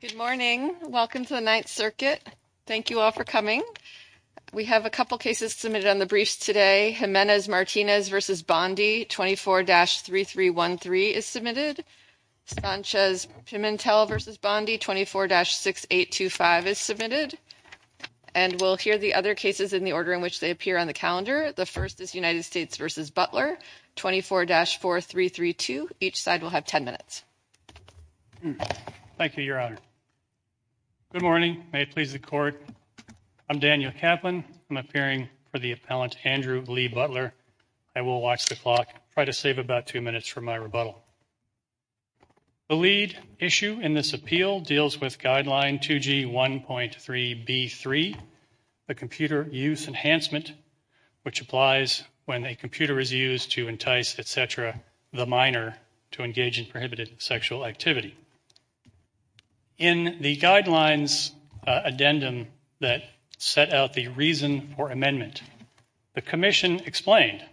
Good morning. Welcome to the Ninth Circuit. Thank you all for coming. We have a couple cases submitted on the briefs today. Jimenez-Martinez v. Bondi, 24-3313 is submitted. Sanchez-Pimentel v. Bondi, 24-6825 is submitted. And we'll hear the other cases in the order in which they appear on the calendar. The first is United States v. Butler, 24-4332. Each side will have ten minutes. Daniel Kaplan Thank you, Your Honor. Good morning. May it please the Court. I'm Daniel Kaplan. I'm appearing for the appellant, Andrew Lee Butler. I will watch the clock, try to save about two minutes for my rebuttal. The lead issue in this appeal deals with Guideline 2G1.3B3, the computer use enhancement, which applies when a computer is used to entice, et cetera, the minor to engage in prohibited sexual activity. In the Guidelines addendum that set out the reason for amendment, the Commission explained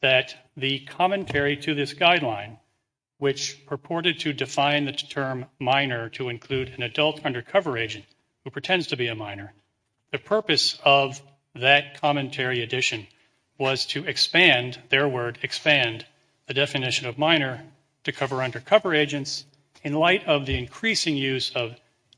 that the commentary to this guideline, which purported to define the term minor to include an adult undercover agent who pretends to be a minor, the purpose of that commentary addition was to expand, their word, expand the definition of minor to cover undercover agents in light of the increasing use of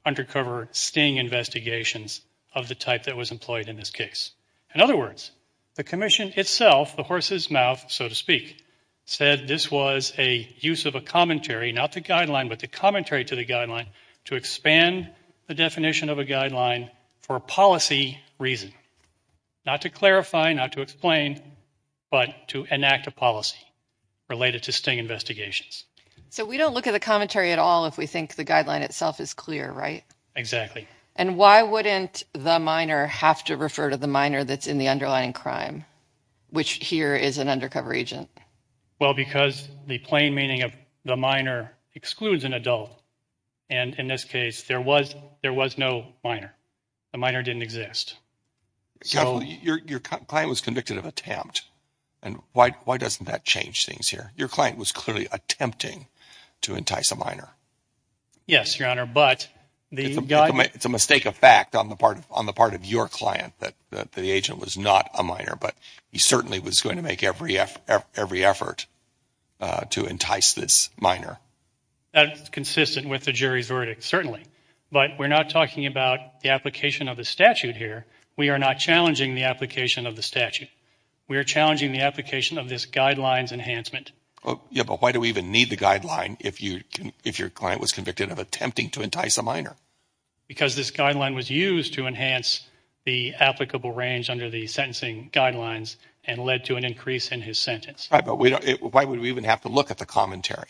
undercover sting investigations of the type that was employed in this case. In other words, the Commission itself, the horse's mouth, so to speak, said this was a use of a commentary, not the guideline, but the commentary to the guideline to expand the definition of a guideline for policy reason. Not to clarify, not to explain, but to enact a policy related to sting investigations. So we don't look at the commentary at all if we think the guideline itself is clear, right? Exactly. And why wouldn't the minor have to refer to the minor that's in the underlying crime, which here is an undercover agent? Well, because the plain meaning of the minor excludes an adult. And in this case, there was no minor. The minor didn't exist. Your client was convicted of attempt. And why doesn't that change things here? Your client was clearly attempting to entice a minor. Yes, Your Honor, but the... It's a mistake of fact on the part of your client that the agent was not a minor, but he certainly was going to make every effort to entice this minor. That's consistent with the jury's verdict, certainly. But we're not talking about the application of the statute here. We are not challenging the application of the statute. We are challenging the application of this guidelines enhancement. Yeah, but why do we even need the guideline if your client was convicted of attempting to entice a minor? Because this guideline was used to enhance the applicable range under the sentencing guidelines and led to an increase in his sentence. Right, but why would we even have to look at the commentary?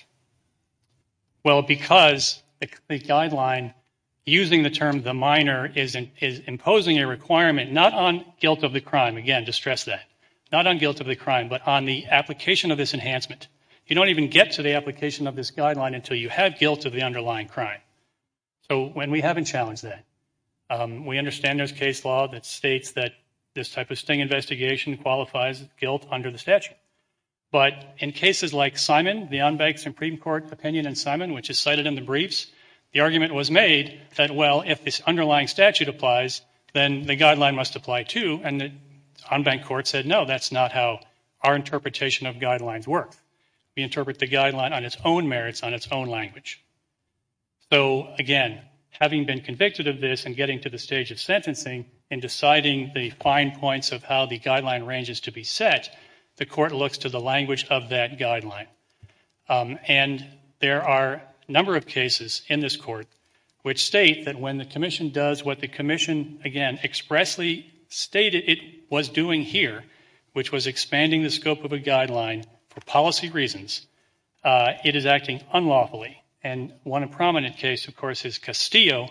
Well, because the guideline using the term the minor is imposing a requirement not on guilt of the crime, again, to stress that, not on guilt of the crime, but on the application of this enhancement. You don't even get to the application of this guideline until you have guilt of the underlying crime. So when we haven't challenged that, we understand there's case law that states that this type of sting investigation qualifies guilt under the statute. But in cases like Simon, the on-bank Supreme Court opinion in Simon, which is cited in the briefs, the argument was made that, well, if this underlying statute applies, then the guideline must apply too. And the on-bank court said, no, that's not how our interpretation of guidelines work. We interpret the guideline on its own merits, on its own language. So again, having been convicted of this and getting to the stage of sentencing and deciding the fine points of how the guideline ranges to be set, the Court looks to the language of that guideline. And there are a number of cases in this Court which state that when the Commission does what the Commission, again, expressly stated it was doing here, which was expanding the scope of a guideline for policy reasons, it is acting unlawfully. And one prominent case, of course, is Castillo,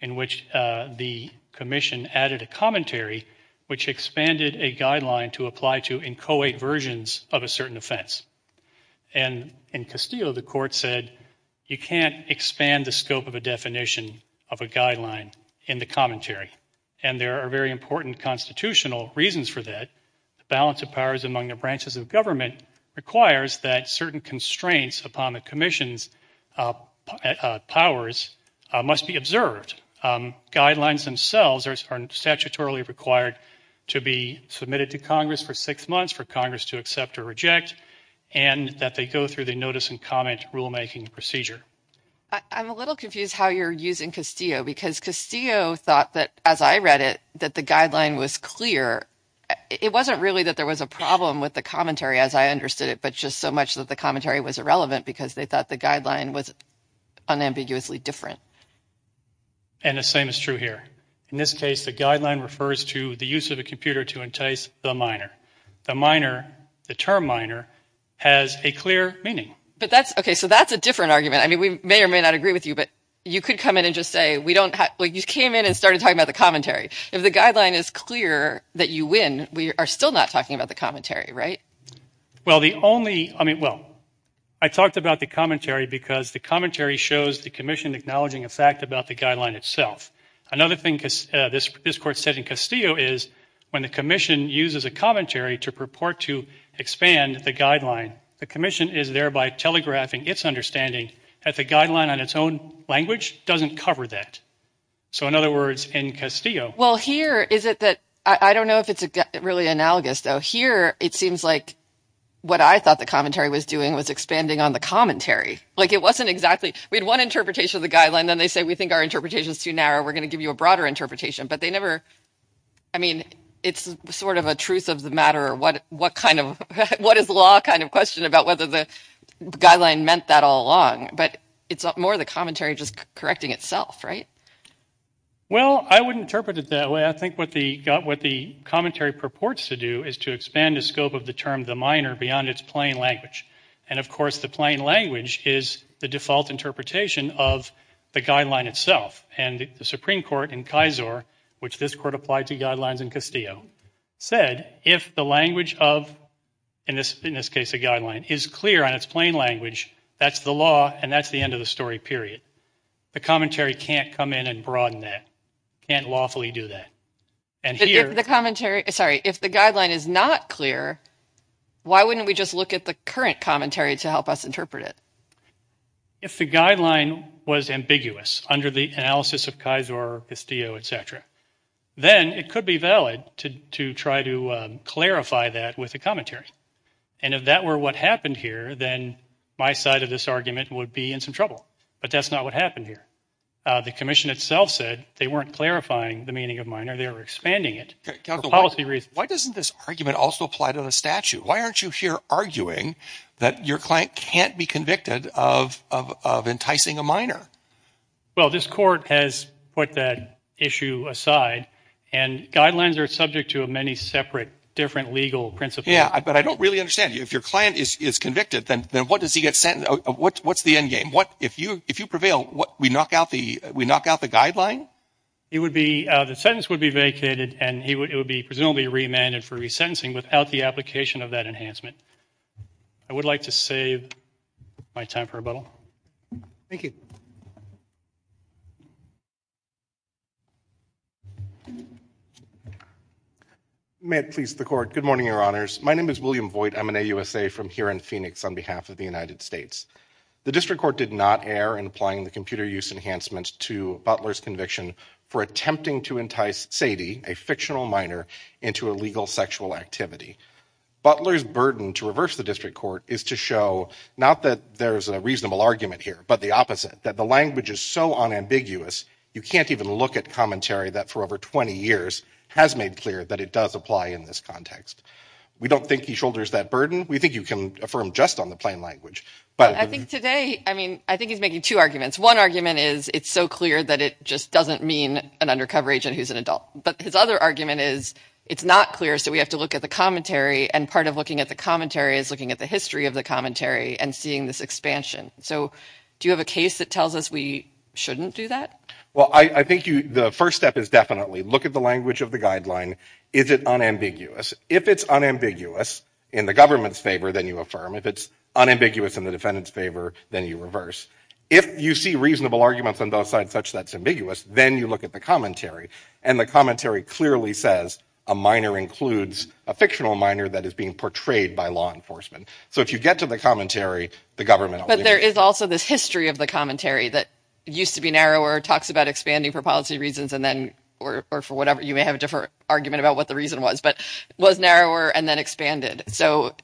in which the Commission added a commentary which expanded a guideline to apply to inchoate versions of a certain offense. And in Castillo, the Court said you can't expand the scope of a definition of a guideline in the commentary. And there are very important constitutional reasons for that. The balance of powers among the branches of government requires that certain constraints upon the Commission's powers must be observed. Guidelines themselves are statutorily required to be submitted to Congress for six months for Congress to accept or reject, and that they go through the notice and comment rulemaking procedure. I'm a little confused how you're using Castillo, because Castillo thought that, as I read it, that the guideline was clear. It wasn't really that there was a problem with the commentary as I understood it, but just so much that the commentary was irrelevant because they thought the guideline was unambiguously different. And the same is true here. In this case, the guideline refers to the use of a computer to entice the minor. The minor, the term minor, has a clear meaning. But that's, okay, so that's a different argument. I mean, we may or may not agree with you, but you could come in and just say, we don't have, like, you came in and started talking about the commentary. If the guideline is clear that you win, we are still not talking about the commentary, right? Well the only, I mean, well, I talked about the commentary because the commentary shows the Commission acknowledging a fact about the guideline itself. Another thing this Court said in Castillo is when the Commission uses a commentary to purport to expand the guideline, the Commission is thereby telegraphing its understanding that the guideline on its own language doesn't cover that. So, in other words, in Castillo- Well, here, is it that, I don't know if it's really analogous, though. Here, it seems like what I thought the commentary was doing was expanding on the commentary. Like, it wasn't exactly, we had one interpretation of the guideline, then they say, we think our interpretation is too narrow, we're going to give you a broader interpretation. But they never, I mean, it's sort of a truth of the matter, what kind of, what is law kind of question about whether the guideline meant that all along. But it's more the commentary just correcting itself, right? Well, I wouldn't interpret it that way. I think what the commentary purports to do is to expand the scope of the term, the minor, beyond its plain language. And, of course, the plain language is the default interpretation of the guideline itself. And the Supreme Court in Kaiser, which this Court applied to guidelines in Castillo, said if the language of, in this case, a guideline, is clear on its plain language, that's the law, and that's the end of the story, period. The commentary can't come in and broaden that, can't lawfully do that. But if the commentary, sorry, if the guideline is not clear, why wouldn't we just look at the current commentary to help us interpret it? If the guideline was ambiguous under the analysis of Kaiser, Castillo, et cetera, then it could be valid to try to clarify that with a commentary. And if that were what happened here, then my side of this argument would be in some trouble. But that's not what happened here. The Commission itself said they weren't clarifying the meaning of minor, they were expanding it for policy reasons. Why doesn't this argument also apply to the statute? Why aren't you here arguing that your client can't be convicted of enticing a minor? Well, this Court has put that issue aside, and guidelines are subject to many separate, different legal principles. Yeah, but I don't really understand. If your client is convicted, then what does he get sentenced, what's the endgame? If you prevail, we knock out the guideline? It would be, the sentence would be vacated, and he would be presumably remanded for resentencing without the application of that enhancement. I would like to save my time for rebuttal. Thank you. May it please the Court. Good morning, Your Honors. My name is William Voigt. I'm an AUSA from here in Phoenix on behalf of the United States. The District Court did not err in applying the computer use enhancement to Butler's conviction for attempting to entice Sadie, a fictional minor, into illegal sexual activity. Butler's burden to reverse the District Court is to show, not that there's a reasonable argument here, but the opposite, that the language is so unambiguous, you can't even look at commentary that for over 20 years has made clear that it does apply in this context. We don't think he shoulders that burden. We think you can affirm just on the plain language, but— I think today, I mean, I think he's making two arguments. One argument is, it's so clear that it just doesn't mean an undercover agent who's an adult. But his other argument is, it's not clear, so we have to look at the commentary, and part of looking at the commentary is looking at the history of the commentary and seeing this expansion. So do you have a case that tells us we shouldn't do that? Well, I think the first step is definitely look at the language of the guideline. Is it unambiguous? If it's unambiguous in the government's favor, then you affirm. If it's unambiguous in the defendant's favor, then you reverse. If you see reasonable arguments on both sides such that it's ambiguous, then you look at the commentary, and the commentary clearly says a minor includes a fictional minor that is being portrayed by law enforcement. So if you get to the commentary, the government will— But there is also this history of the commentary that used to be narrower, talks about expanding for policy reasons, and then—or for whatever, you may have a different argument about what the reason was—but was narrower and then expanded. So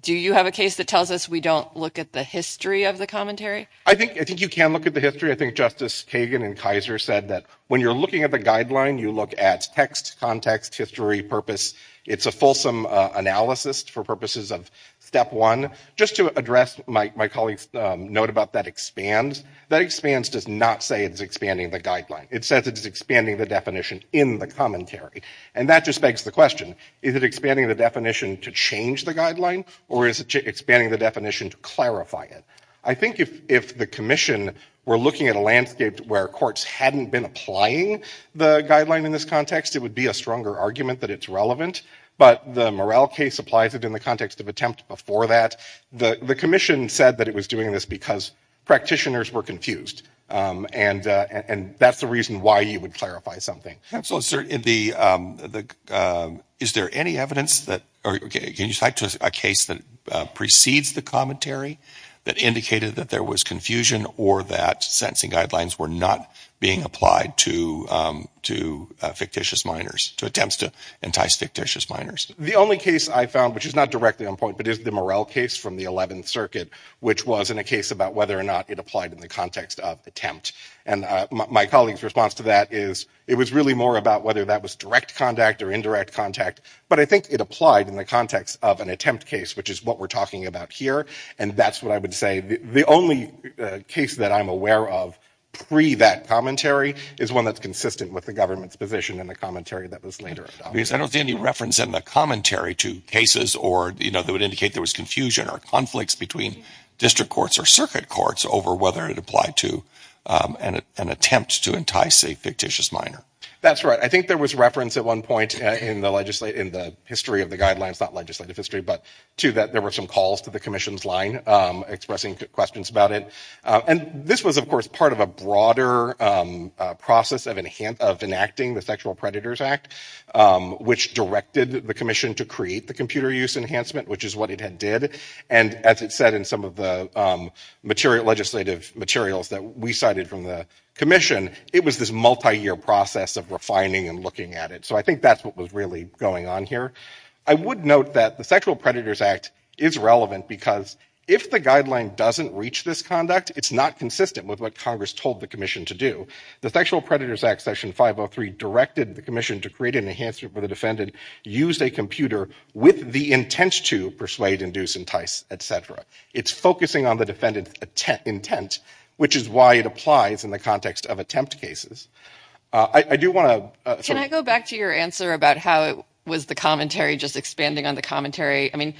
do you have a case that tells us we don't look at the history of the commentary? I think you can look at the history. I think Justice Kagan and Kaiser said that when you're looking at the guideline, you look at text, context, history, purpose. It's a fulsome analysis for purposes of step one. Just to address my colleague's note about that expand, that expand does not say it's expanding the guideline. It says it's expanding the definition in the commentary. And that just begs the question, is it expanding the definition to change the guideline, or is it expanding the definition to clarify it? I think if the commission were looking at a landscape where courts hadn't been applying the guideline in this context, it would be a stronger argument that it's relevant. But the Morrell case applies it in the context of attempt before that. The commission said that it was doing this because practitioners were confused. And that's the reason why you would clarify something. So is there any evidence that—or can you cite a case that precedes the commentary that indicated that there was confusion or that sentencing guidelines were not being applied to fictitious minors, to attempts to entice fictitious minors? The only case I found, which is not directly on point, but is the Morrell case from the 11th Circuit, which was in a case about whether or not it applied in the context of attempt. And my colleague's response to that is it was really more about whether that was direct contact or indirect contact. But I think it applied in the context of an attempt case, which is what we're talking about here. And that's what I would say. The only case that I'm aware of pre that commentary is one that's consistent with the government's position in the commentary that was later adopted. I don't see any reference in the commentary to cases or, you know, that would indicate there was confusion or conflicts between district courts or circuit courts over whether it applied to an attempt to entice a fictitious minor. That's right. I think there was reference at one point in the history of the guidelines, not legislative history, but to that there were some calls to the commission's line expressing questions about it. And this was, of course, part of a broader process of enacting the Sexual Predators Act, which directed the commission to create the computer use enhancement, which is what it had did. And as it said in some of the legislative materials that we cited from the commission, it was this multiyear process of refining and looking at it. So I think that's what was really going on here. I would note that the Sexual Predators Act is relevant because if the guideline doesn't reach this conduct, it's not consistent with what Congress told the commission to do. The Sexual Predators Act, Section 503, directed the commission to create an enhancement for the defendant used a computer with the intent to persuade, induce, entice, et cetera. It's focusing on the defendant's intent, which is why it applies in the context of attempt cases. Can I go back to your answer about how it was the commentary just expanding on the commentary? I mean,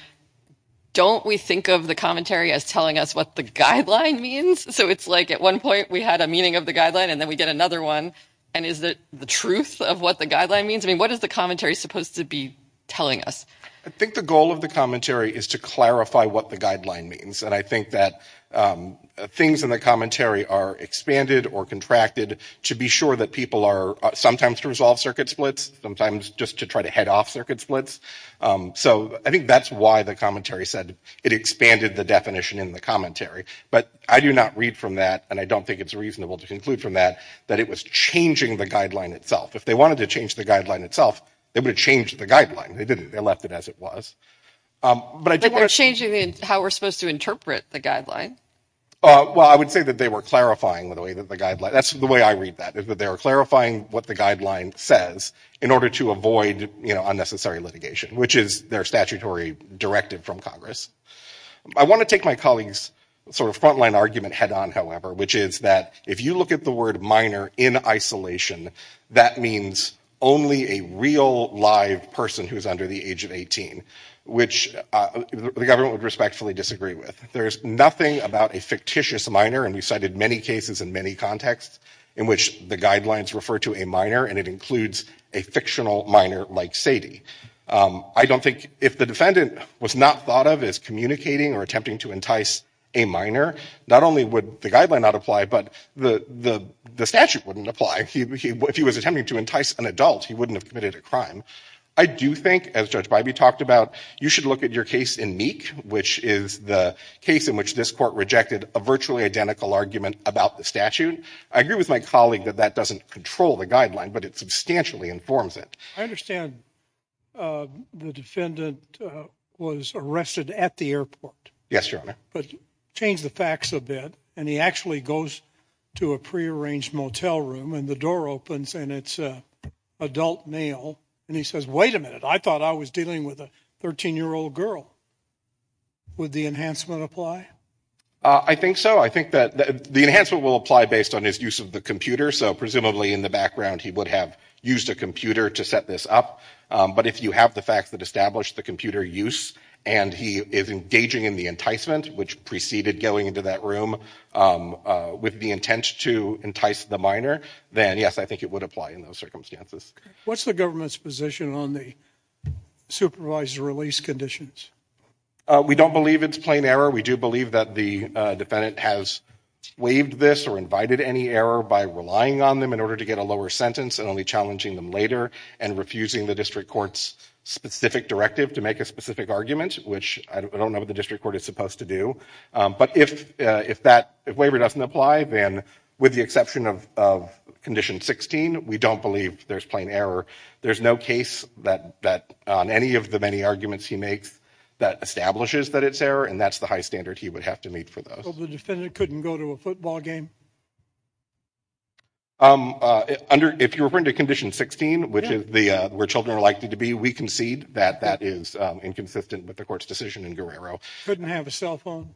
don't we think of the commentary as telling us what the guideline means? So it's like at one point we had a meaning of the guideline and then we get another one. And is it the truth of what the guideline means? I mean, what is the commentary supposed to be telling us? I think the goal of the commentary is to clarify what the guideline means. And I think that things in the commentary are expanded or contracted to be sure that people are sometimes to resolve circuit splits, sometimes just to try to head off circuit splits. So I think that's why the commentary said it expanded the definition in the commentary. But I do not read from that, and I don't think it's reasonable to conclude from that, that it was changing the guideline itself. If they wanted to change the guideline itself, they would have changed the guideline. They didn't. They left it as it was. But they're changing how we're supposed to interpret the guideline. Well, I would say that they were clarifying the way that the guideline, that's the way I read that, is that they were clarifying what the guideline says in order to avoid unnecessary litigation, which is their statutory directive from Congress. I want to take my colleagues' sort of frontline argument head on, however, which is that if you look at the word minor in isolation, that means only a real live person who's under the age of 18, which the government would respectfully disagree with. There's nothing about a fictitious minor, and we cited many cases in many contexts in which the guidelines refer to a minor, and it includes a fictional minor like Sadie. I don't think, if the defendant was not thought of as communicating or attempting to entice a minor, not only would the guideline not apply, but the statute wouldn't apply. If he was attempting to entice an adult, he wouldn't have committed a crime. I do think, as Judge Bybee talked about, you should look at your case in Meek, which is the case in which this court rejected a virtually identical argument about the statute. I agree with my colleague that that doesn't control the guideline, but it substantially informs it. I understand the defendant was arrested at the airport. Yes, Your Honor. But change the facts a bit, and he actually goes to a prearranged motel room, and the adult male, and he says, wait a minute, I thought I was dealing with a 13-year-old girl. Would the enhancement apply? I think so. I think that the enhancement will apply based on his use of the computer, so presumably in the background he would have used a computer to set this up. But if you have the facts that establish the computer use, and he is engaging in the enticement, which preceded going into that room with the intent to entice the minor, then yes, I think it would apply in those circumstances. What's the government's position on the supervised release conditions? We don't believe it's plain error. We do believe that the defendant has waived this or invited any error by relying on them in order to get a lower sentence and only challenging them later and refusing the district court's specific directive to make a specific argument, which I don't know what the district court is supposed to do. But if that waiver doesn't apply, then with the exception of Condition 16, we don't believe there's plain error. There's no case that on any of the many arguments he makes that establishes that it's error, and that's the high standard he would have to meet for those. So the defendant couldn't go to a football game? If you're referring to Condition 16, which is where children are likely to be, we concede that that is inconsistent with the court's decision in Guerrero. Couldn't have a cell phone?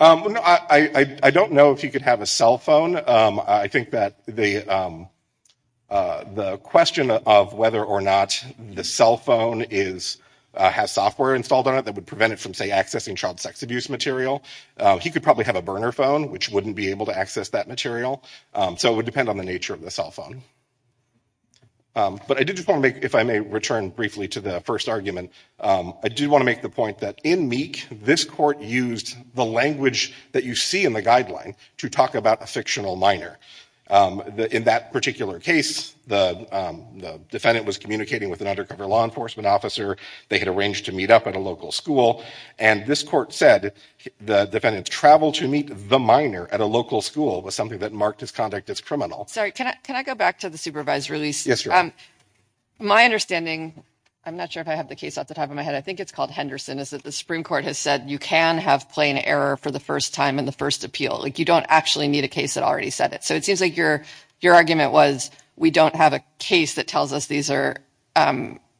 I don't know if he could have a cell phone. I think that the question of whether or not the cell phone has software installed on it that would prevent it from, say, accessing child sex abuse material, he could probably have a burner phone, which wouldn't be able to access that material. So it would depend on the nature of the cell phone. But I did just want to make, if I may return briefly to the first argument, I do want to make the point that in Meek, this court used the language that you see in the guideline to talk about a fictional minor. In that particular case, the defendant was communicating with an undercover law enforcement officer. They had arranged to meet up at a local school. And this court said the defendant's travel to meet the minor at a local school was something that marked his conduct as criminal. Sorry, can I go back to the supervised release? My understanding, I'm not sure if I have the case off the top of my head, I think it's called Henderson, is that the Supreme Court has said you can have plain error for the first time in the first appeal. You don't actually need a case that already said it. So it seems like your argument was, we don't have a case that tells us these are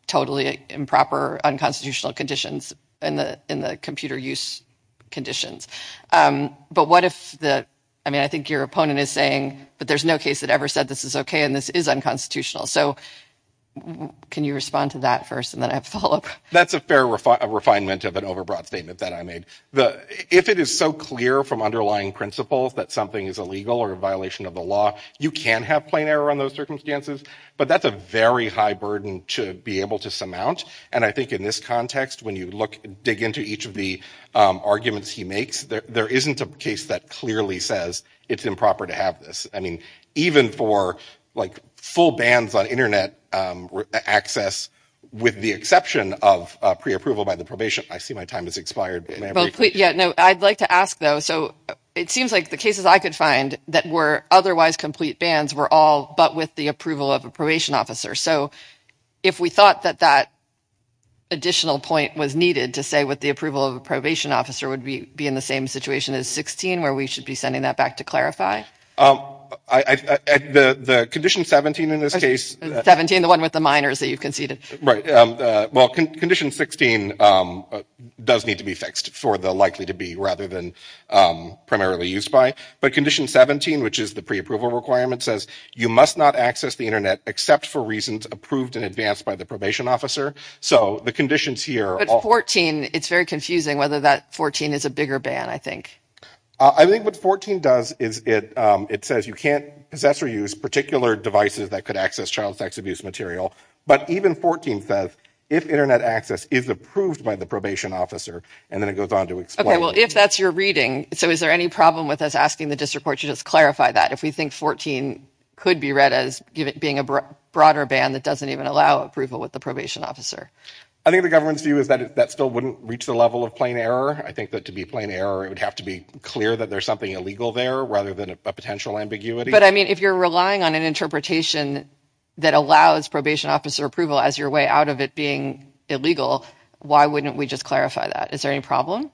totally improper unconstitutional conditions in the computer use conditions. But what if the, I mean, I think your opponent is saying, but there's no case that ever said this is OK and this is unconstitutional. So can you respond to that first and then I have a follow up? That's a fair refinement of an overbroad statement that I made. If it is so clear from underlying principles that something is illegal or a violation of the law, you can have plain error on those circumstances. But that's a very high burden to be able to surmount. And I think in this context, when you look, dig into each of the arguments he makes, there isn't a case that clearly says it's improper to have this. I mean, even for like full bans on Internet access, with the exception of pre-approval by the probation, I see my time has expired. Yeah, no, I'd like to ask, though. So it seems like the cases I could find that were otherwise complete bans were all but with the approval of a probation officer. So if we thought that that additional point was needed to say what the approval of a probation officer would be in the same situation as 16, where we should be sending that back to clarify? The Condition 17 in this case... 17, the one with the minors that you've conceded. Right. Well, Condition 16 does need to be fixed for the likely to be rather than primarily used by. But Condition 17, which is the pre-approval requirement, says you must not access the Internet except for reasons approved in advance by the probation officer. So the conditions here... But 14, it's very confusing whether that 14 is a bigger ban, I think. I think what 14 does is it says you can't possess or use particular devices that could access child sex abuse material. But even 14 says, if Internet access is approved by the probation officer, and then it goes on to explain... Okay, well, if that's your reading, so is there any problem with us asking the district court to just clarify that? If we think 14 could be read as being a broader ban that doesn't even allow approval with the probation officer? I think the government's view is that that still wouldn't reach the level of plain error. I think that to be plain error, it would have to be clear that there's something illegal there rather than a potential ambiguity. But, I mean, if you're relying on an interpretation that allows probation officer approval as your way out of it being illegal, why wouldn't we just clarify that? Is there any problem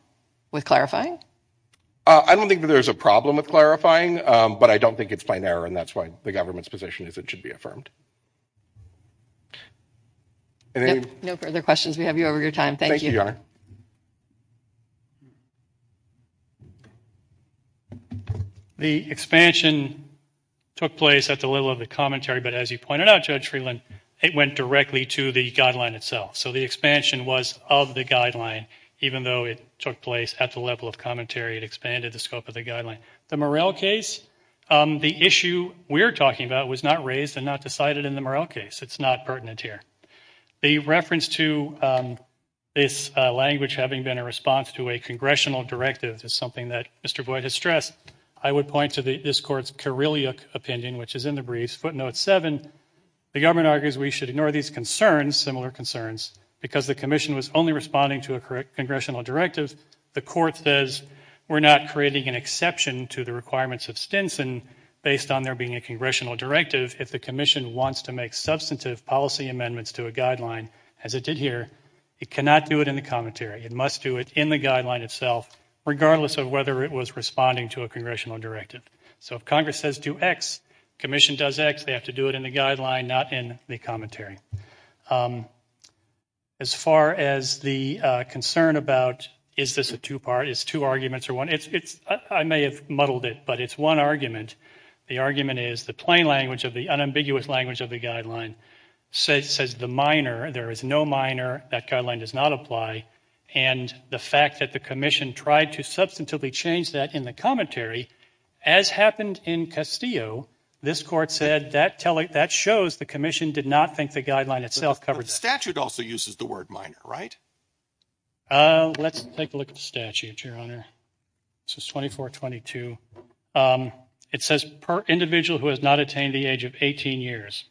with clarifying? I don't think that there's a problem with clarifying, but I don't think it's plain error, and that's why the government's position is it should be affirmed. No further questions. We have you over your time. Thank you. The expansion took place at the level of the commentary, but as you pointed out, Judge Freeland, it went directly to the guideline itself. So the expansion was of the guideline, even though it took place at the level of commentary, it expanded the scope of the guideline. The Murrell case, the issue we're talking about was not raised and not decided in the Murrell case. It's not pertinent here. The reference to this language having been a response to a congressional directive is something that Mr. Boyd has stressed. I would point to this Court's Kareliuk opinion, which is in the briefs, footnote 7. The government argues we should ignore these concerns, similar concerns, because the commission was only responding to a congressional directive. The Court says we're not creating an exception to the requirements of Stinson based on there being a congressional directive. If the commission wants to make substantive policy amendments to a guideline, as it did here, it cannot do it in the commentary. It must do it in the guideline itself, regardless of whether it was responding to a congressional directive. So if Congress says do X, commission does X, they have to do it in the guideline, not in the commentary. As far as the concern about is this a two-part, is two arguments or one? I may have muddled it, but it's one argument. The argument is the plain language of the unambiguous language of the guideline says the minor, there is no minor, that guideline does not apply, and the fact that the commission tried to substantively change that in the commentary, as happened in Castillo, this Court said that shows the commission did not think the guideline itself covered that. But the statute also uses the word minor, right? Let's take a look at the statute, Your Honor. This is 2422. It says per individual who has not attained the age of 18 years.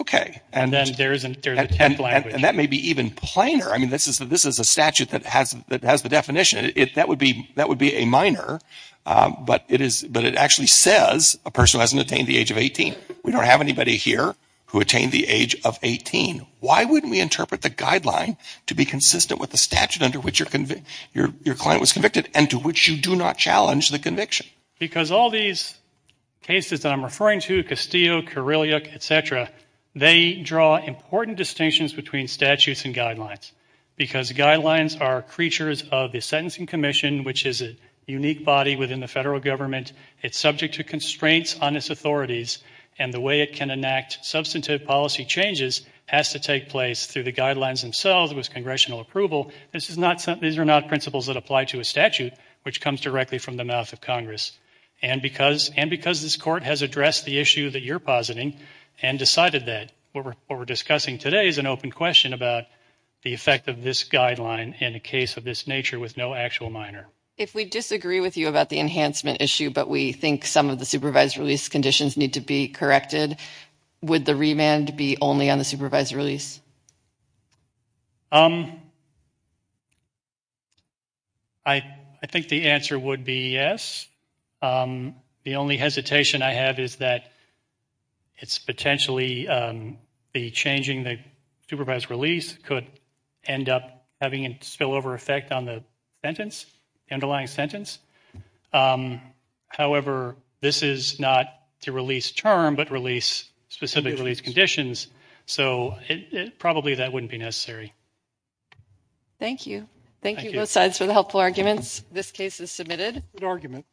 Okay. And then there is an attempt language. And that may be even plainer. I mean, this is a statute that has the definition. That would be a minor, but it actually says a person who hasn't attained the age of 18. We don't have anybody here who attained the age of 18. Why wouldn't we interpret the guideline to be consistent with the statute under which your client was convicted and to which you do not challenge the conviction? Because all these cases that I'm referring to, Castillo, Kyrilliok, et cetera, they draw important distinctions between statutes and guidelines, because guidelines are creatures of the sentencing commission, which is a unique body within the federal government. It's subject to constraints on its authorities, and the way it can enact substantive policy changes has to take place through the guidelines themselves, with congressional approval. These are not principles that apply to a statute, which comes directly from the mouth of Congress. And because this Court has addressed the issue that you're positing and decided that, what we're discussing today is an open question about the effect of this guideline in a case of this nature with no actual minor. If we disagree with you about the enhancement issue, but we think some of the supervised release conditions need to be corrected, would the remand be only on the supervised release? I think the answer would be yes. The only hesitation I have is that it's potentially the changing the supervised release could end up having a spillover effect on the sentence, the underlying sentence. However, this is not to release term, but release specific release conditions, so probably that wouldn't be necessary. Thank you. Thank you both sides for the helpful arguments. This case is submitted. Good argument.